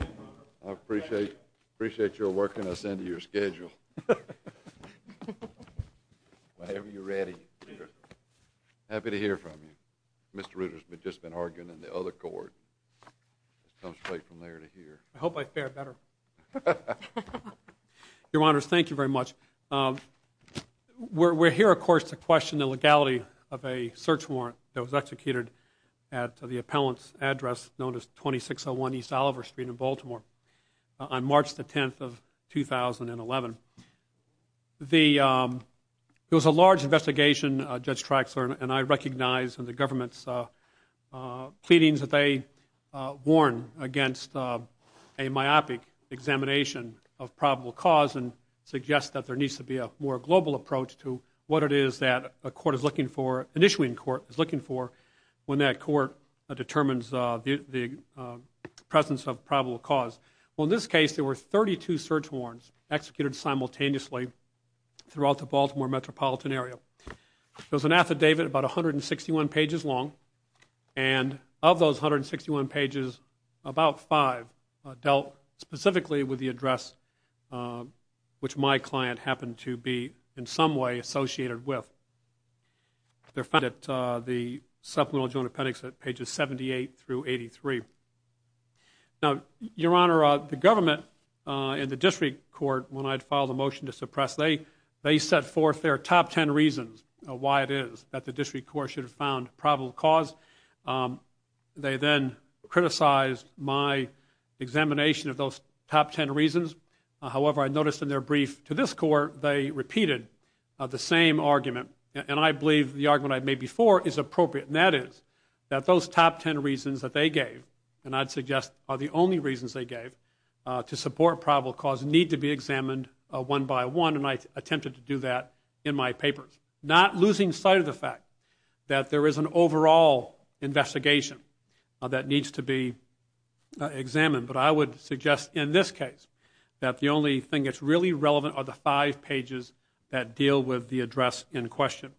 I appreciate your working us into your schedule. Whenever you're ready, Reuters. Happy to hear from you. Mr. Reuters has just been arguing in the other court. It comes straight from there to here. I hope I fare better. Your Honors, thank you very much. We're here, of course, to question the legality of a search warrant that was executed at the appellant's address, known as 2601 East Oliver Street in Baltimore, on March the 10th of 2011. There was a large investigation. Judge Traxler and I recognize in the government's pleadings that they warn against a myopic examination of probable cause and suggest that there needs to be a more global approach to what it is that a court is looking for, an issuing court is looking for, when that court determines the presence of probable cause. Well, in this case, there were 32 search warrants executed simultaneously throughout the Baltimore metropolitan area. There was an affidavit about 161 pages long, and of those 161 pages, about five dealt specifically with the address which my client happened to be in some way associated with. They're found at the supplemental joint appendix at pages 78 through 83. Now, Your Honor, the government and the district court, when I had filed a motion to suppress, they set forth their top ten reasons why it is that the district court should have found probable cause. They then criticized my examination of those top ten reasons. However, I noticed in their brief to this court, they repeated the same argument, and I believe the argument I made before is appropriate, and that is that those top ten reasons that they gave, and I'd suggest are the only reasons they gave, to support probable cause need to be examined one by one, and I attempted to do that in my papers, not losing sight of the fact that there is an overall investigation that needs to be examined. But I would suggest in this case that the only thing that's really relevant are the five pages that deal with the address in question.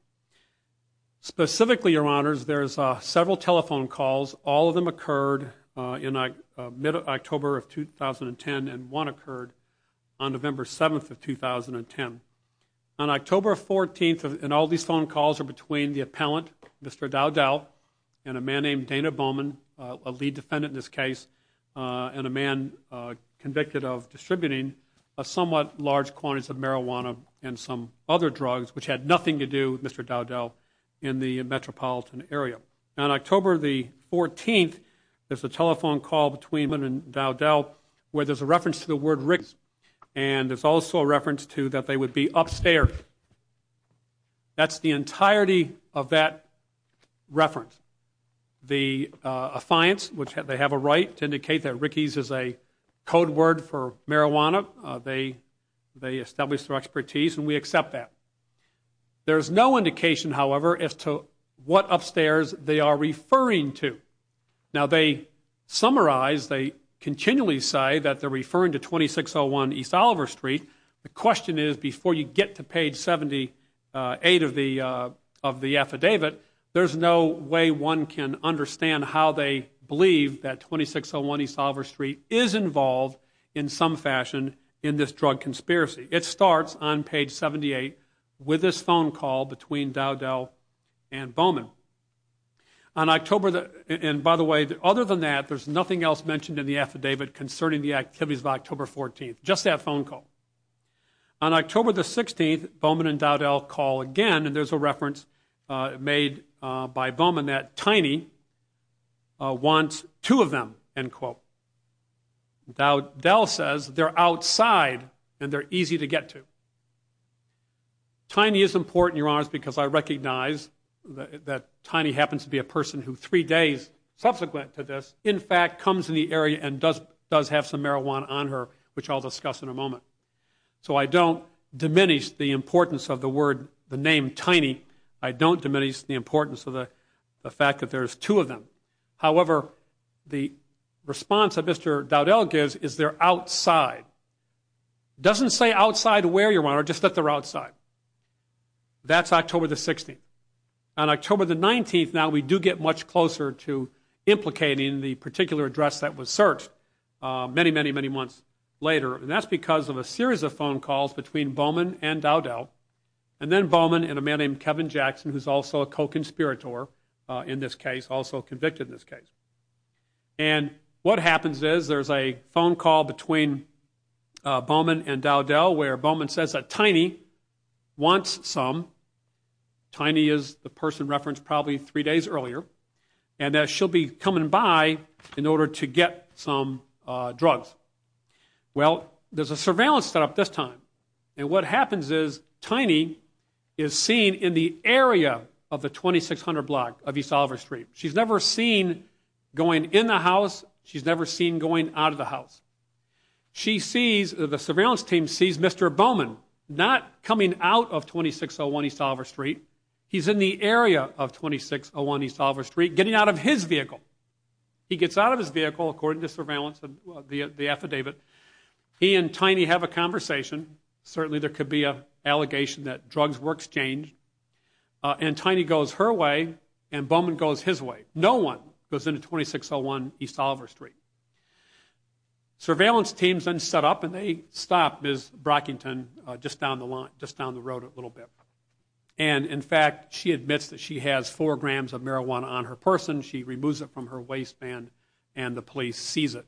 Specifically, Your Honors, there's several telephone calls. All of them occurred in mid-October of 2010, and one occurred on November 7th of 2010. On October 14th, and all these phone calls are between the appellant, Mr. Dowdell, and a man named Dana Bowman, a lead defendant in this case, and a man convicted of distributing a somewhat large quantities of marijuana and some other drugs, which had nothing to do with Mr. Dowdell in the metropolitan area. On October 14th, there's a telephone call between Bowman and Dowdell where there's a reference to the word Rick's, and there's also a reference to that they would be upstairs. That's the entirety of that reference. The affiance, which they have a right to indicate that Rickie's is a code word for marijuana, they establish their expertise, and we accept that. There's no indication, however, as to what upstairs they are referring to. Now, they summarize, they continually say that they're referring to 2601 East Oliver Street. The question is, before you get to page 78 of the affidavit, there's no way one can understand how they believe that 2601 East Oliver Street is involved in some fashion in this drug conspiracy. It starts on page 78 with this phone call between Dowdell and Bowman. And, by the way, other than that, there's nothing else mentioned in the affidavit concerning the activities of October 14th, just that phone call. On October 16th, Bowman and Dowdell call again, and there's a reference made by Bowman that Tiny wants two of them, end quote. Dowdell says they're outside and they're easy to get to. Tiny is important, Your Honor, because I recognize that Tiny happens to be a person who, three days subsequent to this, in fact comes in the area and does have some marijuana on her, which I'll discuss in a moment. So I don't diminish the importance of the word, the name Tiny. I don't diminish the importance of the fact that there's two of them. However, the response that Mr. Dowdell gives is they're outside. It doesn't say outside where, Your Honor, just that they're outside. That's October 16th. On October 19th, now, we do get much closer to implicating the particular address that was searched many, many, many months later, and that's because of a series of phone calls between Bowman and Dowdell, and then Bowman and a man named Kevin Jackson, who's also a co-conspirator in this case, also convicted in this case. And what happens is there's a phone call between Bowman and Dowdell where Bowman says that Tiny wants some. Tiny is the person referenced probably three days earlier, and that she'll be coming by in order to get some drugs. Well, there's a surveillance setup this time, and what happens is Tiny is seen in the area of the 2600 block of East Oliver Street. She's never seen going in the house. She's never seen going out of the house. She sees, the surveillance team sees Mr. Bowman not coming out of 2601 East Oliver Street. He's in the area of 2601 East Oliver Street getting out of his vehicle. He gets out of his vehicle, according to surveillance and the affidavit. He and Tiny have a conversation. Certainly there could be an allegation that drugs were exchanged, and Tiny goes her way and Bowman goes his way. No one goes into 2601 East Oliver Street. Surveillance teams then set up, and they stop Ms. Brockington just down the road a little bit. And, in fact, she admits that she has four grams of marijuana on her person. She removes it from her waistband, and the police seize it.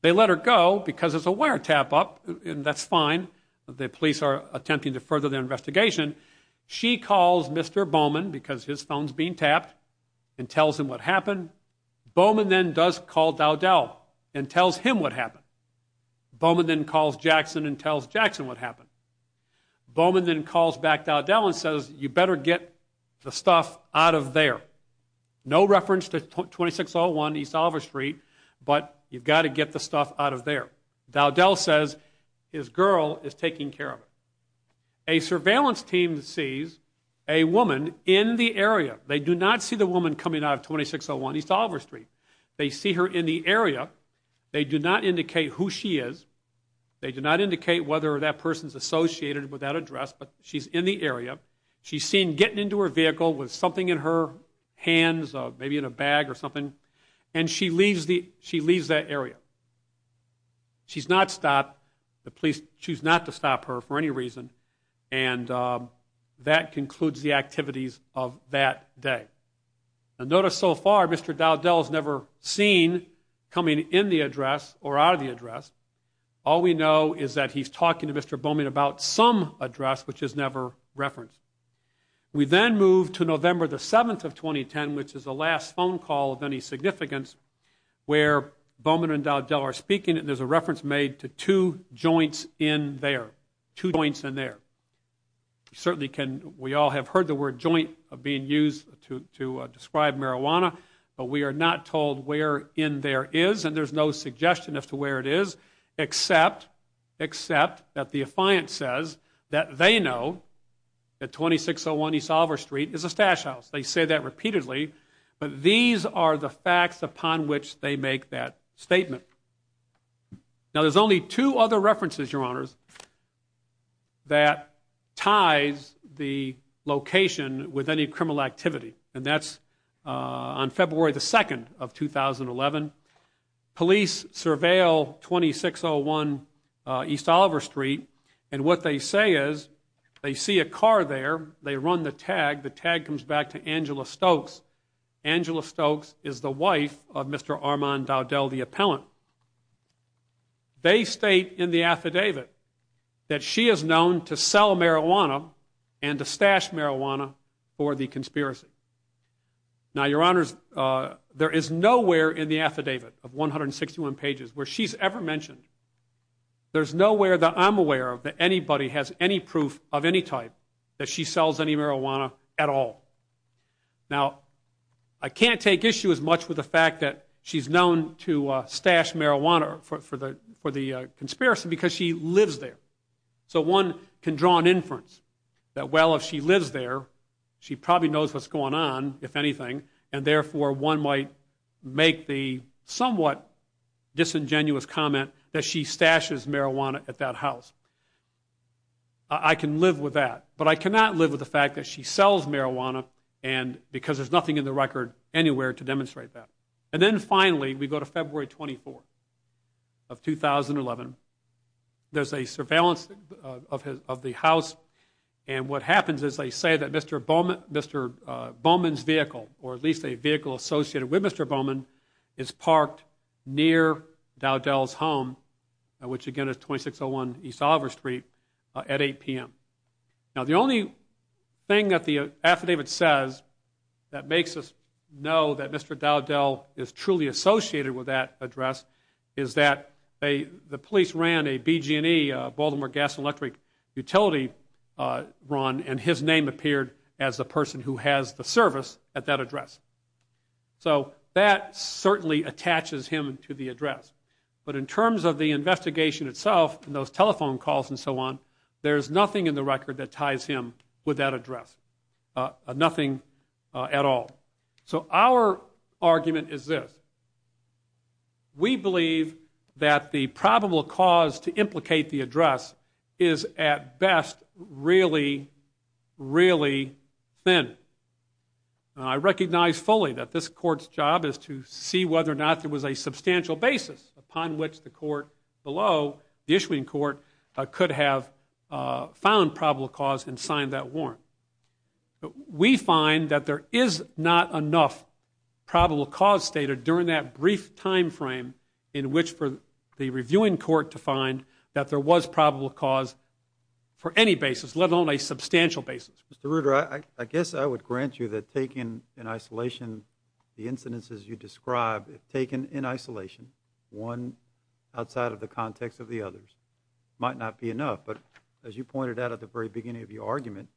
They let her go because it's a wire tap-up, and that's fine. The police are attempting to further their investigation. She calls Mr. Bowman because his phone's being tapped and tells him what happened. Bowman then does call Dowdell and tells him what happened. Bowman then calls Jackson and tells Jackson what happened. Bowman then calls back Dowdell and says, you better get the stuff out of there. No reference to 2601 East Oliver Street, but you've got to get the stuff out of there. Dowdell says his girl is taking care of it. A surveillance team sees a woman in the area. They do not see the woman coming out of 2601 East Oliver Street. They see her in the area. They do not indicate who she is. They do not indicate whether that person's associated with that address, but she's in the area. She's seen getting into her vehicle with something in her hands, maybe in a bag or something, and she leaves that area. She's not stopped. The police choose not to stop her for any reason, and that concludes the activities of that day. Notice so far Mr. Dowdell's never seen coming in the address or out of the address. All we know is that he's talking to Mr. Bowman about some address which is never referenced. We then move to November the 7th of 2010, which is the last phone call of any significance, where Bowman and Dowdell are speaking, and there's a reference made to two joints in there, two joints in there. Certainly we all have heard the word joint being used to describe marijuana, but we are not told where in there is, and there's no suggestion as to where it is, except that the affiant says that they know that 2601 East Oliver Street is a stash house. They say that repeatedly, but these are the facts upon which they make that statement. Now, there's only two other references, Your Honors, that ties the location with any criminal activity, and that's on February the 2nd of 2011. Police surveil 2601 East Oliver Street, and what they say is they see a car there. They run the tag. The tag comes back to Angela Stokes. Angela Stokes is the wife of Mr. Armand Dowdell, the appellant. They state in the affidavit that she is known to sell marijuana and to stash marijuana for the conspiracy. Now, Your Honors, there is nowhere in the affidavit of 161 pages where she's ever mentioned, there's nowhere that I'm aware of that anybody has any proof of any type that she sells any marijuana at all. Now, I can't take issue as much with the fact that she's known to stash marijuana for the conspiracy because she lives there, so one can draw an inference that, well, if she lives there, she probably knows what's going on, if anything, and therefore one might make the somewhat disingenuous comment that she stashes marijuana at that house. I can live with that, but I cannot live with the fact that she sells marijuana because there's nothing in the record anywhere to demonstrate that. And then finally, we go to February 24th of 2011. There's a surveillance of the house, and what happens is they say that Mr. Bowman's vehicle, or at least a vehicle associated with Mr. Bowman, is parked near Dowdell's home, which again is 2601 East Oliver Street, at 8 p.m. Now, the only thing that the affidavit says that makes us know that Mr. Dowdell is truly associated with that address is that the police ran a BG&E, Baltimore Gas and Electric, utility run, and his name appeared as the person who has the service at that address. So that certainly attaches him to the address. But in terms of the investigation itself and those telephone calls and so on, there's nothing in the record that ties him with that address, nothing at all. So our argument is this. We believe that the probable cause to implicate the address is at best really, really thin. Now, I recognize fully that this court's job is to see whether or not there was a substantial basis upon which the court below, the issuing court, could have found probable cause and signed that warrant. But we find that there is not enough probable cause stated during that brief time frame in which for the reviewing court to find that there was probable cause for any basis, let alone a substantial basis. Mr. Reuter, I guess I would grant you that taking in isolation the incidences you describe, if taken in isolation, one outside of the context of the others, might not be enough. But as you pointed out at the very beginning of your argument,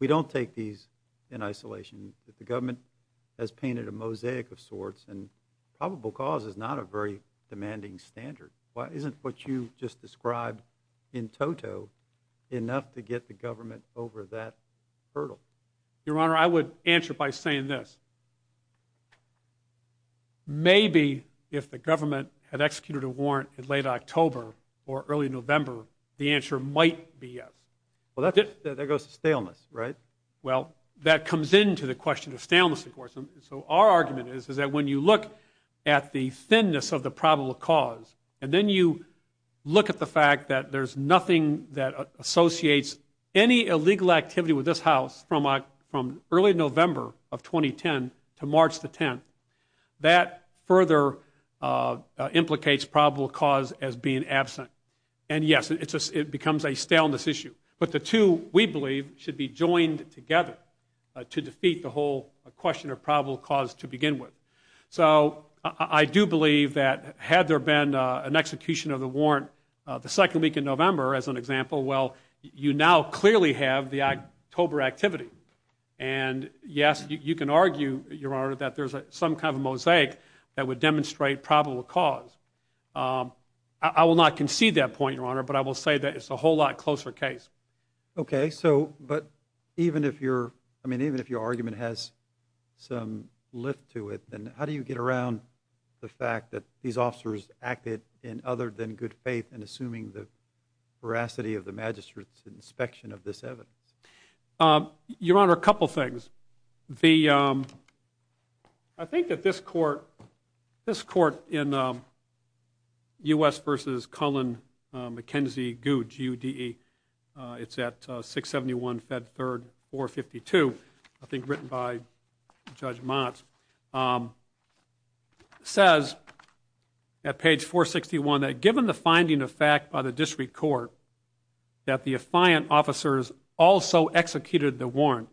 we don't take these in isolation. The government has painted a mosaic of sorts, and probable cause is not a very demanding standard. Isn't what you just described in toto enough to get the government over that hurdle? Your Honor, I would answer by saying this. Maybe if the government had executed a warrant in late October or early November, the answer might be yes. Well, that goes to staleness, right? Well, that comes into the question of staleness, of course. So our argument is that when you look at the thinness of the probable cause and then you look at the fact that there's nothing that associates any illegal activity with this House from early November of 2010 to March the 10th, that further implicates probable cause as being absent. And, yes, it becomes a staleness issue. But the two, we believe, should be joined together to defeat the whole question of probable cause to begin with. So I do believe that had there been an execution of the warrant the second week in November, as an example, well, you now clearly have the October activity. And, yes, you can argue, Your Honor, that there's some kind of a mosaic that would demonstrate probable cause. I will not concede that point, Your Honor, but I will say that it's a whole lot closer case. Okay. But even if your argument has some lift to it, then how do you get around the fact that these officers acted in other than good faith in assuming the veracity of the magistrate's inspection of this evidence? Your Honor, a couple things. The, I think that this court, this court in U.S. v. Cullen-McKenzie-Goud, G-U-D-E, it's at 671 Fed 3rd, 452, I think written by Judge Motz, says at page 461 that given the finding of fact by the district court that the affiant officers also executed the warrant,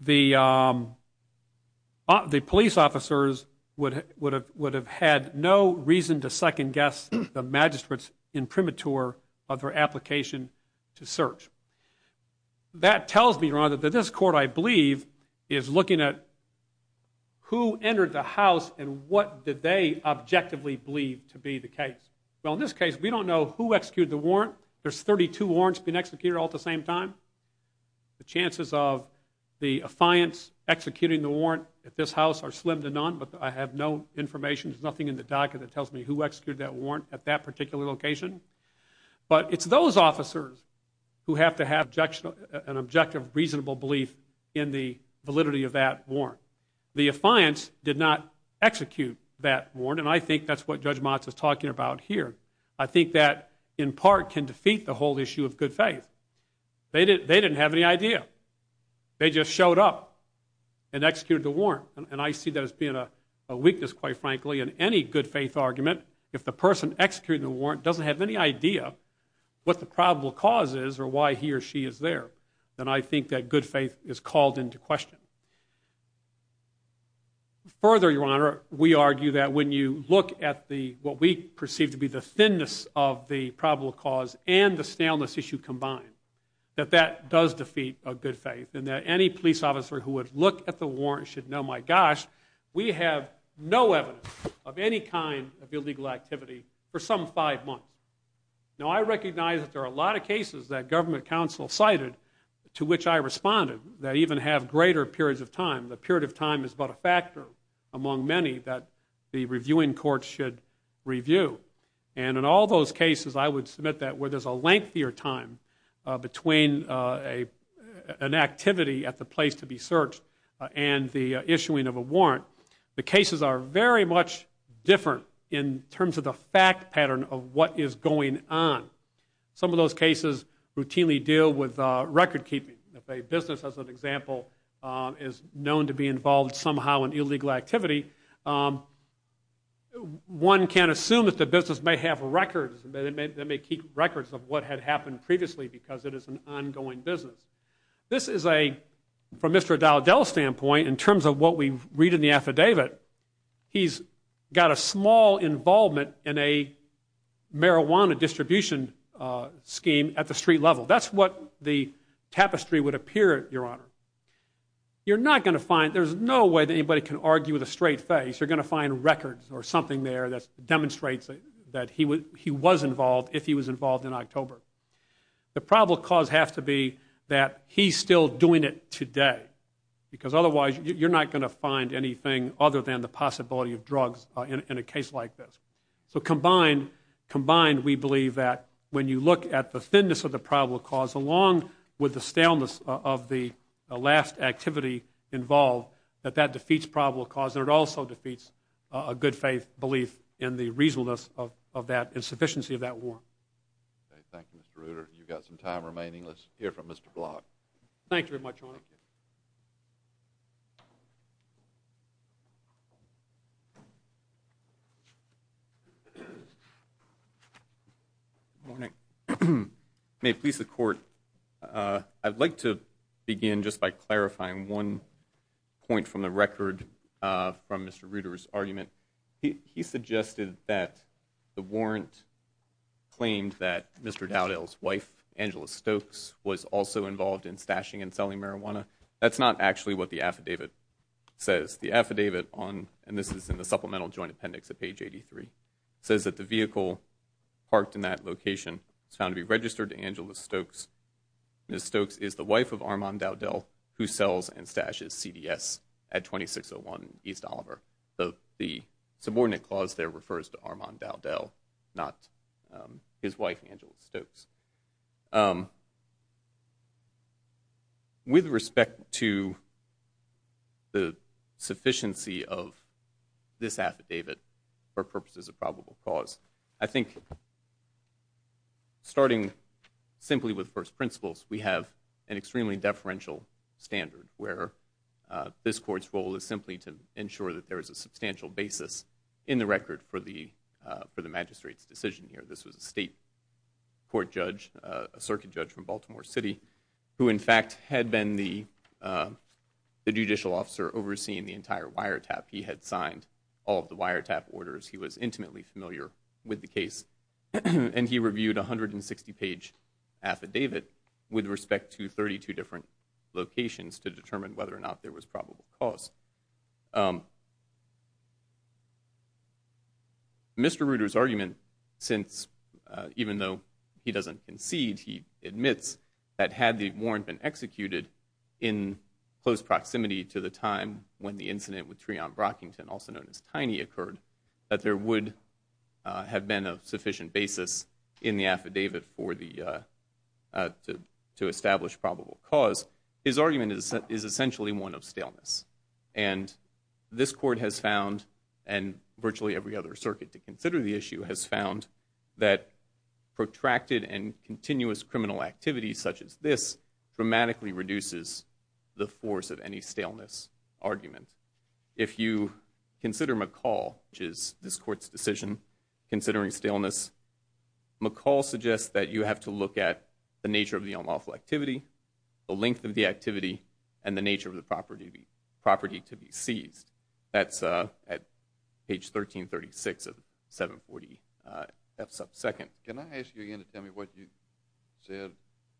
the police officers would have had no reason to second-guess the magistrate's imprimatur of her application to search. That tells me, Your Honor, that this court, I believe, is looking at who entered the house and what did they objectively believe to be the case. Well, in this case, we don't know who executed the warrant. There's 32 warrants being executed all at the same time. The chances of the affiants executing the warrant at this house are slim to none, but I have no information, there's nothing in the docket that tells me who executed that warrant at that particular location. But it's those officers who have to have an objective, reasonable belief in the validity of that warrant. The affiants did not execute that warrant, and I think that's what Judge Motz is talking about here. I think that, in part, can defeat the whole issue of good faith. They didn't have any idea. They just showed up and executed the warrant. And I see that as being a weakness, quite frankly, in any good faith argument. If the person executing the warrant doesn't have any idea what the probable cause is or why he or she is there, then I think that good faith is called into question. Further, Your Honor, we argue that when you look at the, what we perceive to be the thinness of the probable cause and the staleness issue combined, that that does defeat a good faith, and that any police officer who would look at the warrant should know, my gosh, we have no evidence of any kind of illegal activity for some five months. Now, I recognize that there are a lot of cases that government counsel cited to which I responded that even have greater periods of time. The period of time is but a factor among many that the reviewing courts should review. And in all those cases, I would submit that where there's a lengthier time between an activity at the place to be searched and the issuing of a warrant, the cases are very much different in terms of the fact pattern of what is going on. Some of those cases routinely deal with record keeping. If a business, as an example, is known to be involved somehow in illegal activity, one can assume that the business may have records, they may keep records of what had happened previously because it is an ongoing business. This is a, from Mr. O'Donnell's standpoint, in terms of what we read in the affidavit, he's got a small involvement in a marijuana distribution scheme at the street level. That's what the tapestry would appear, Your Honor. You're not going to find, there's no way that anybody can argue with a straight face. You're going to find records or something there that demonstrates that he was involved if he was involved in October. The probable cause has to be that he's still doing it today because otherwise you're not going to find anything other than the possibility of drugs in a case like this. So combined, we believe that when you look at the thinness of the probable cause along with the staleness of the last activity involved, that that defeats probable cause and it also defeats a good faith belief in the reasonableness of that insufficiency of that warrant. Thank you, Mr. Reuter. You've got some time remaining. Let's hear from Mr. Block. Thank you very much, Your Honor. Good morning. May it please the Court, I'd like to begin just by clarifying one point from the record from Mr. Reuter's argument. He suggested that the warrant claimed that Mr. Dowdell's wife, Angela Stokes, was also involved in stashing and selling marijuana. That's not actually what the affidavit says. The affidavit on, and this is in the supplemental joint appendix at page 83, says that the vehicle parked in that location is found to be registered to Angela Stokes. Ms. Stokes is the wife of Armand Dowdell, who sells and stashes CDS at 2601 East Oliver. The subordinate clause there refers to Armand Dowdell, not his wife, Angela Stokes. With respect to the sufficiency of this affidavit for purposes of probable cause, I think starting simply with first principles, we have an extremely deferential standard where this Court's role is simply to ensure that there is a substantial basis in the record for the magistrate's decision here. This was a state court judge, a circuit judge from Baltimore City, who in fact had been the judicial officer overseeing the entire wiretap. He had signed all of the wiretap orders. He was intimately familiar with the case, and he reviewed a 160-page affidavit with respect to 32 different locations to determine whether or not there was probable cause. Mr. Reuter's argument, since even though he doesn't concede, he admits that had the warrant been executed in close proximity to the time when the incident with Treon Brockington, also known as Tiny, occurred, that there would have been a sufficient basis in the affidavit to establish probable cause, his argument is essentially one of staleness. And this Court has found, and virtually every other circuit to consider the issue, has found that protracted and continuous criminal activity such as this dramatically reduces the force of any staleness argument. If you consider McCall, which is this Court's decision, considering staleness, McCall suggests that you have to look at the nature of the unlawful activity, the length of the activity, and the nature of the property to be seized. That's at page 1336 of 740 F sub 2. Can I ask you again to tell me what you said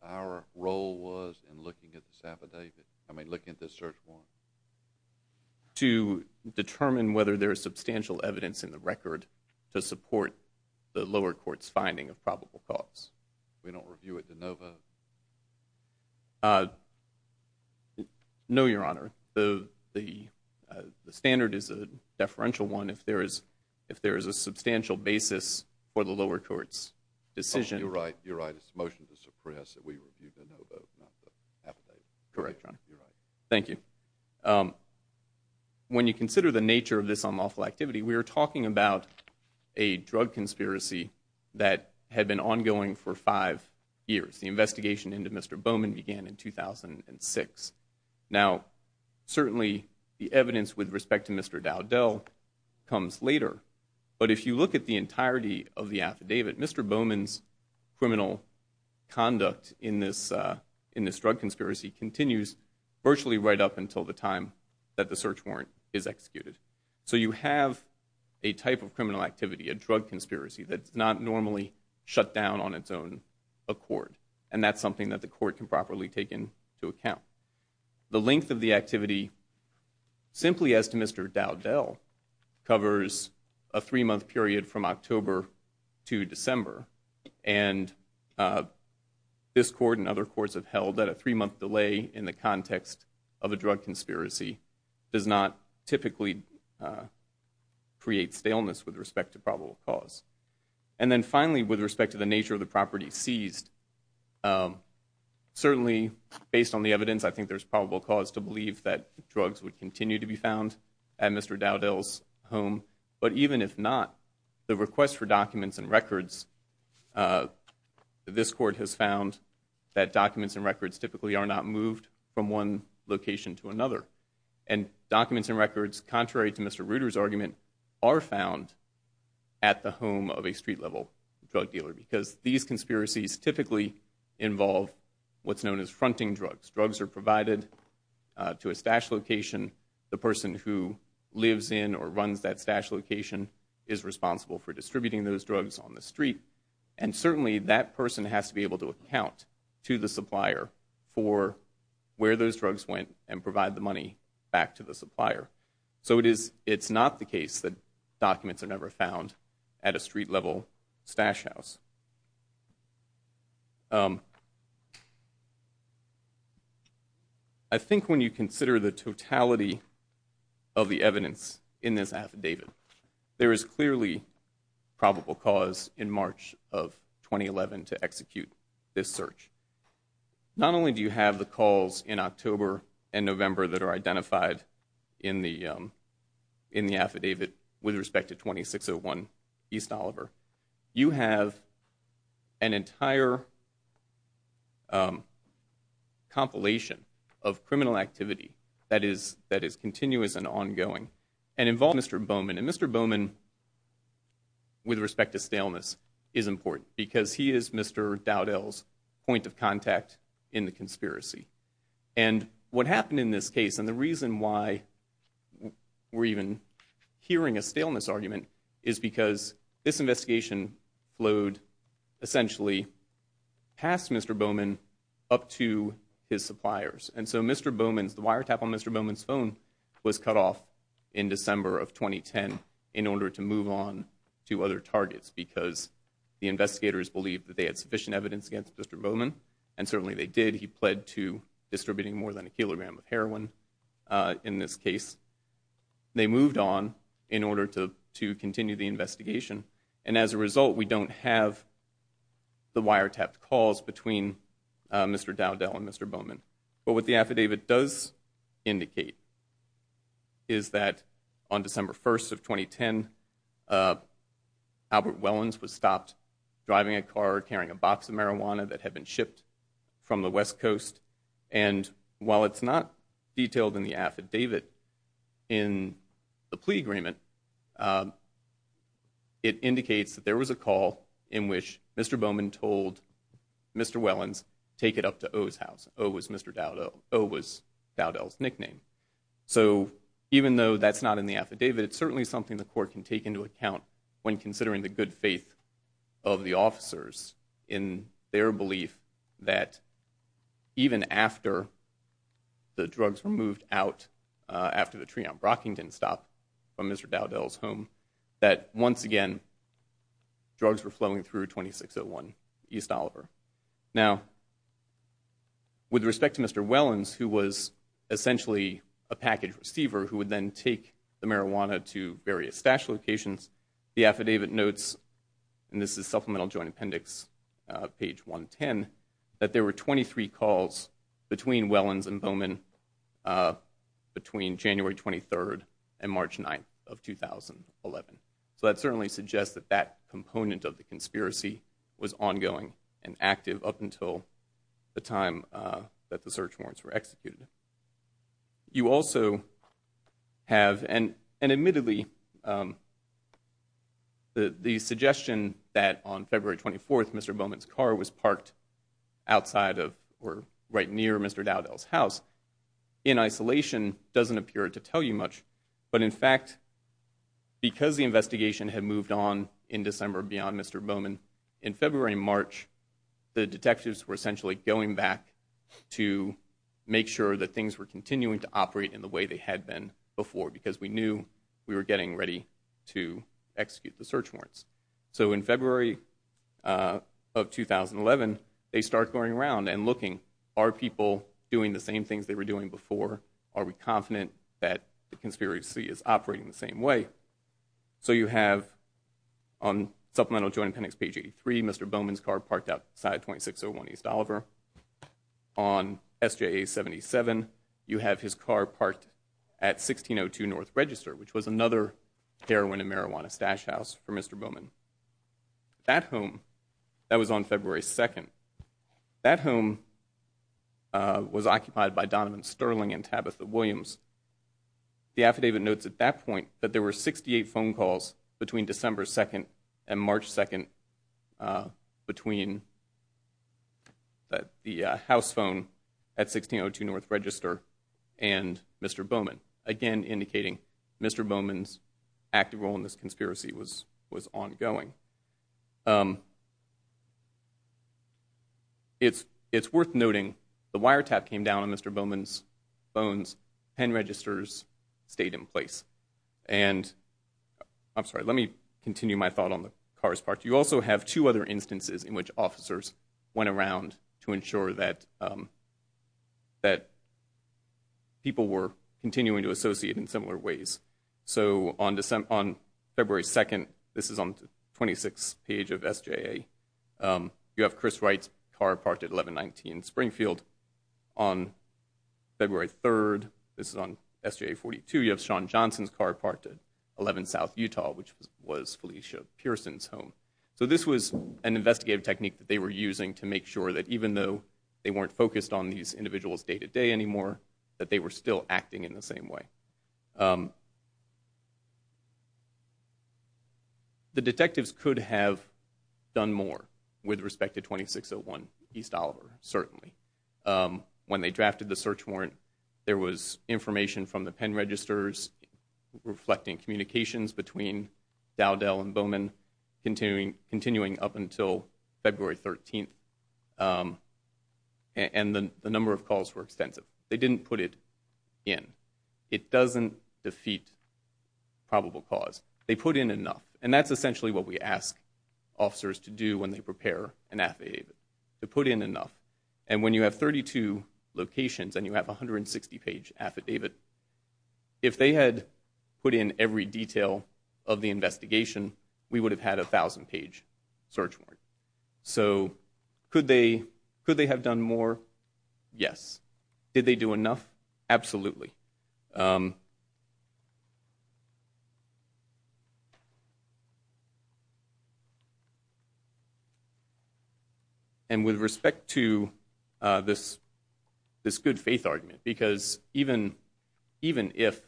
our role was in looking at this affidavit, I mean looking at this search warrant? To determine whether there is substantial evidence in the record to support the lower court's finding of probable cause. We don't review it to no vote? No, Your Honor. The standard is a deferential one. If there is a substantial basis for the lower court's decision. You're right. It's a motion to suppress that we review to no vote, not the affidavit. Correct, Your Honor. You're right. Thank you. When you consider the nature of this unlawful activity, we are talking about a drug conspiracy that had been ongoing for five years. The investigation into Mr. Bowman began in 2006. Now, certainly the evidence with respect to Mr. Dowdell comes later, but if you look at the entirety of the affidavit, Mr. Bowman's criminal conduct in this drug conspiracy continues virtually right up until the time that the search warrant is executed. So you have a type of criminal activity, a drug conspiracy, that's not normally shut down on its own accord, and that's something that the court can properly take into account. The length of the activity, simply as to Mr. Dowdell, covers a three-month period from October to December, and this court and other courts have held that a three-month delay in the context of a drug conspiracy does not typically create staleness with respect to probable cause. And then finally, with respect to the nature of the property seized, certainly based on the evidence, I think there's probable cause to believe that drugs would continue to be found at Mr. Dowdell's home, but even if not, the request for documents and records, this court has found that documents and records typically are not moved from one location to another. And documents and records, contrary to Mr. Reuter's argument, are found at the home of a street-level drug dealer, because these conspiracies typically involve what's known as fronting drugs. Drugs are provided to a stash location. The person who lives in or runs that stash location is responsible for distributing those drugs on the street, and certainly that person has to be able to account to the supplier for where those drugs went and provide the money back to the supplier. So it's not the case that documents are never found at a street-level stash house. I think when you consider the totality of the evidence in this affidavit, there is clearly probable cause in March of 2011 to execute this search. Not only do you have the calls in October and November that are identified in the affidavit with respect to 2601 East Oliver, you have an entire compilation of criminal activity that is continuous and ongoing and involves Mr. Bowman. And Mr. Bowman, with respect to staleness, is important, because he is Mr. Dowdell's point of contact in the conspiracy. And what happened in this case, and the reason why we're even hearing a staleness argument, is because this investigation flowed essentially past Mr. Bowman up to his suppliers. And so Mr. Bowman's, the wiretap on Mr. Bowman's phone was cut off in December of 2010 in order to move on to other targets because the investigators believed that they had sufficient evidence against Mr. Bowman, and certainly they did. He pled to distributing more than a kilogram of heroin in this case. They moved on in order to continue the investigation. And as a result, we don't have the wiretapped calls between Mr. Dowdell and Mr. Bowman. But what the affidavit does indicate is that on December 1st of 2010, Albert Wellens was stopped driving a car carrying a box of marijuana that had been shipped from the West Coast. And while it's not detailed in the affidavit in the plea agreement, it indicates that there was a call in which Mr. Bowman told Mr. Wellens, take it up to O's house. O was Mr. Dowdell. O was Dowdell's nickname. So even though that's not in the affidavit, it's certainly something the court can take into account when considering the good faith of the officers in their belief that even after the drugs were moved out, after the tree on Brockington stopped from Mr. Dowdell's home, that once again drugs were flowing through 2601 East Oliver. Now, with respect to Mr. Wellens, who was essentially a package receiver who would then take the marijuana to various stash locations, the affidavit notes, and this is Supplemental Joint Appendix, page 110, that there were 23 calls between Wellens and Bowman between January 23rd and March 9th of 2011. So that certainly suggests that that component of the conspiracy was ongoing and active up until the time that the search warrants were executed. You also have, and admittedly, the suggestion that on February 24th Mr. Bowman's car was parked outside of or right near Mr. Dowdell's house in isolation doesn't appear to tell you much. But in fact, because the investigation had moved on in December beyond Mr. Bowman, in February and March the detectives were essentially going back to make sure that things were continuing to operate in the way they had been before because we knew we were getting ready to execute the search warrants. So in February of 2011 they start going around and looking, are people doing the same things they were doing before? Are we confident that the conspiracy is operating the same way? So you have on Supplemental Joint Appendix, page 83, Mr. Bowman's car parked outside 2601 East Oliver. On SJA 77 you have his car parked at 1602 North Register, which was another heroin and marijuana stash house for Mr. Bowman. That home, that was on February 2nd, that home was occupied by Donovan Sterling and Tabitha Williams. The affidavit notes at that point that there were 68 phone calls between December 2nd and March 2nd between the house phone at 1602 North Register and Mr. Bowman, again indicating Mr. Bowman's active role in this conspiracy was ongoing. It's worth noting the wiretap came down on Mr. Bowman's phones, pen registers stayed in place. And I'm sorry, let me continue my thought on the cars parked. You also have two other instances in which officers went around to ensure that people were continuing to associate in similar ways. So on February 2nd, this is on the 26th page of SJA, you have Chris Wright's car parked at 1119 Springfield. On February 3rd, this is on SJA 42, you have Shawn Johnson's car parked at 11 South Utah, which was Felicia Pearson's home. So this was an investigative technique that they were using to make sure that even though they weren't focused on these individuals day-to-day anymore, that they were still acting in the same way. The detectives could have done more with respect to 2601 East Oliver, certainly. When they drafted the search warrant, there was information from the pen registers reflecting communications between Dowdell and Bowman continuing up until February 13th. And the number of calls were extensive. They didn't put it in. It doesn't defeat probable cause. They put in enough, and that's essentially what we ask officers to do when they prepare an affidavit, to put in enough. And when you have 32 locations and you have a 160-page affidavit, if they had put in every detail of the investigation, we would have had a 1,000-page search warrant. So could they have done more? Yes. Did they do enough? Absolutely. And with respect to this good faith argument, because even if,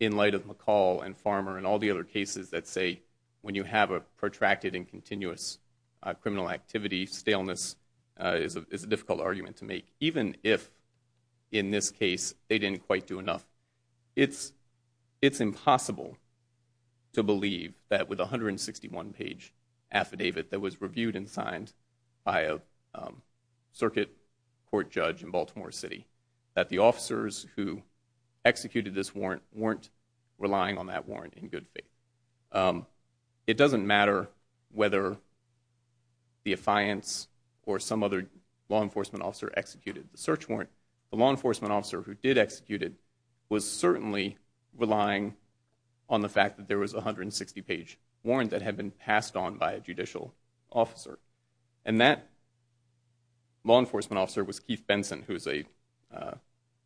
in light of McCall and Farmer and all the other cases that say when you have a protracted and continuous criminal activity, staleness is a difficult argument to make, even if in this case they didn't quite do enough, it's impossible to believe that with a 161-page affidavit that was reviewed and signed by a circuit court judge in Baltimore City that the officers who executed this warrant weren't relying on that warrant in good faith. It doesn't matter whether the affiance or some other law enforcement officer executed the search warrant. The law enforcement officer who did execute it was certainly relying on the fact that there was a 160-page warrant that had been passed on by a judicial officer. And that law enforcement officer was Keith Benson, who is a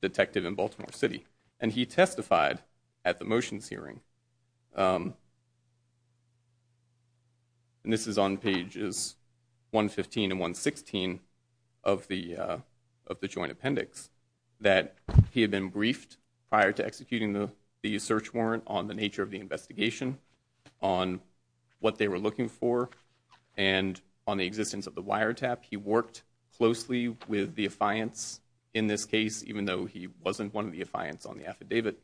detective in Baltimore City, and he testified at the motions hearing. And this is on pages 115 and 116 of the joint appendix, that he had been briefed prior to executing the search warrant on the nature of the investigation, on what they were looking for, and on the existence of the wiretap. He worked closely with the affiance in this case, even though he wasn't one of the affiants on the affidavit.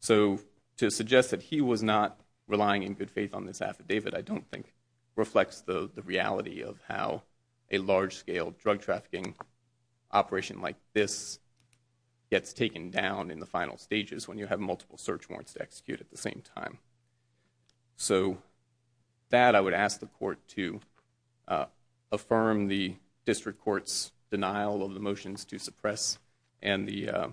So to suggest that he was not relying in good faith on this affidavit I don't think reflects the reality of how a large-scale drug trafficking operation like this gets taken down in the final stages when you have multiple search warrants to execute at the same time. So that I would ask the court to affirm the district court's denial of the motions to suppress tangible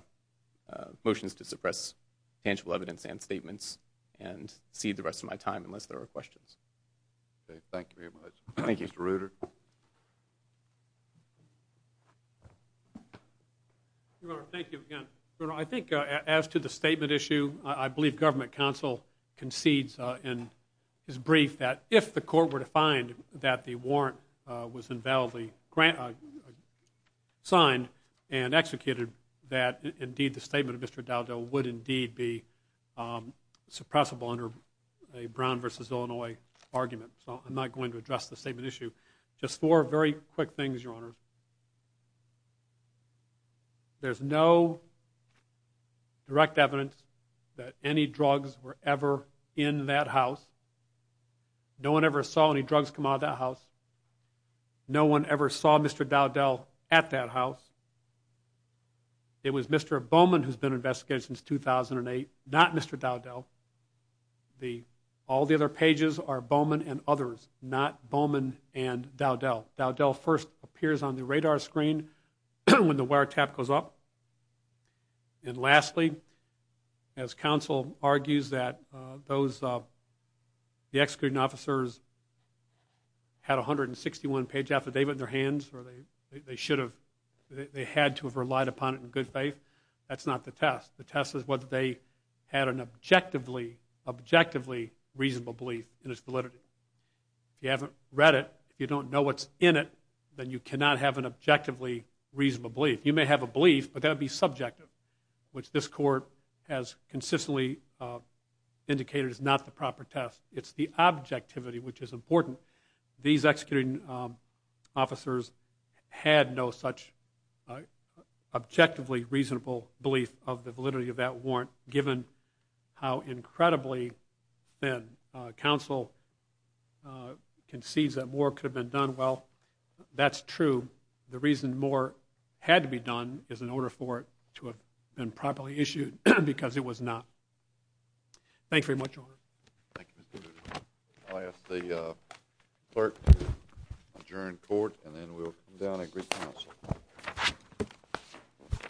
evidence and statements and cede the rest of my time unless there are questions. Okay, thank you very much. Thank you. Mr. Reuter. Your Honor, thank you again. Your Honor, I think as to the statement issue, I believe government counsel concedes in his brief that if the court were to find that the warrant was invalidly signed and executed that indeed the statement of Mr. Dowdell would indeed be suppressible under a Brown v. Illinois argument. So I'm not going to address the statement issue. Just four very quick things, Your Honor. There's no direct evidence that any drugs were ever in that house. No one ever saw any drugs come out of that house. No one ever saw Mr. Dowdell at that house. It was Mr. Bowman who's been investigated since 2008, not Mr. Dowdell. All the other pages are Bowman and others, not Bowman and Dowdell. Dowdell first appears on the radar screen when the wiretap goes up. And lastly, as counsel argues, that the executing officers had a 161-page affidavit in their hands or they should have, they had to have relied upon it in good faith. That's not the test. The test is whether they had an objectively reasonable belief in its validity. If you haven't read it, you don't know what's in it, then you cannot have an objectively reasonable belief. You may have a belief, but that would be subjective, which this court has consistently indicated is not the proper test. It's the objectivity which is important. These executing officers had no such objectively reasonable belief of the validity of that warrant, given how incredibly thin counsel concedes that more could have been done. Well, that's true. The reason more had to be done is in order for it to have been properly issued because it was not. Thank you very much, Your Honor. Thank you, Mr. Duda. I'll ask the clerk to adjourn court, and then we'll come down and agree counsel.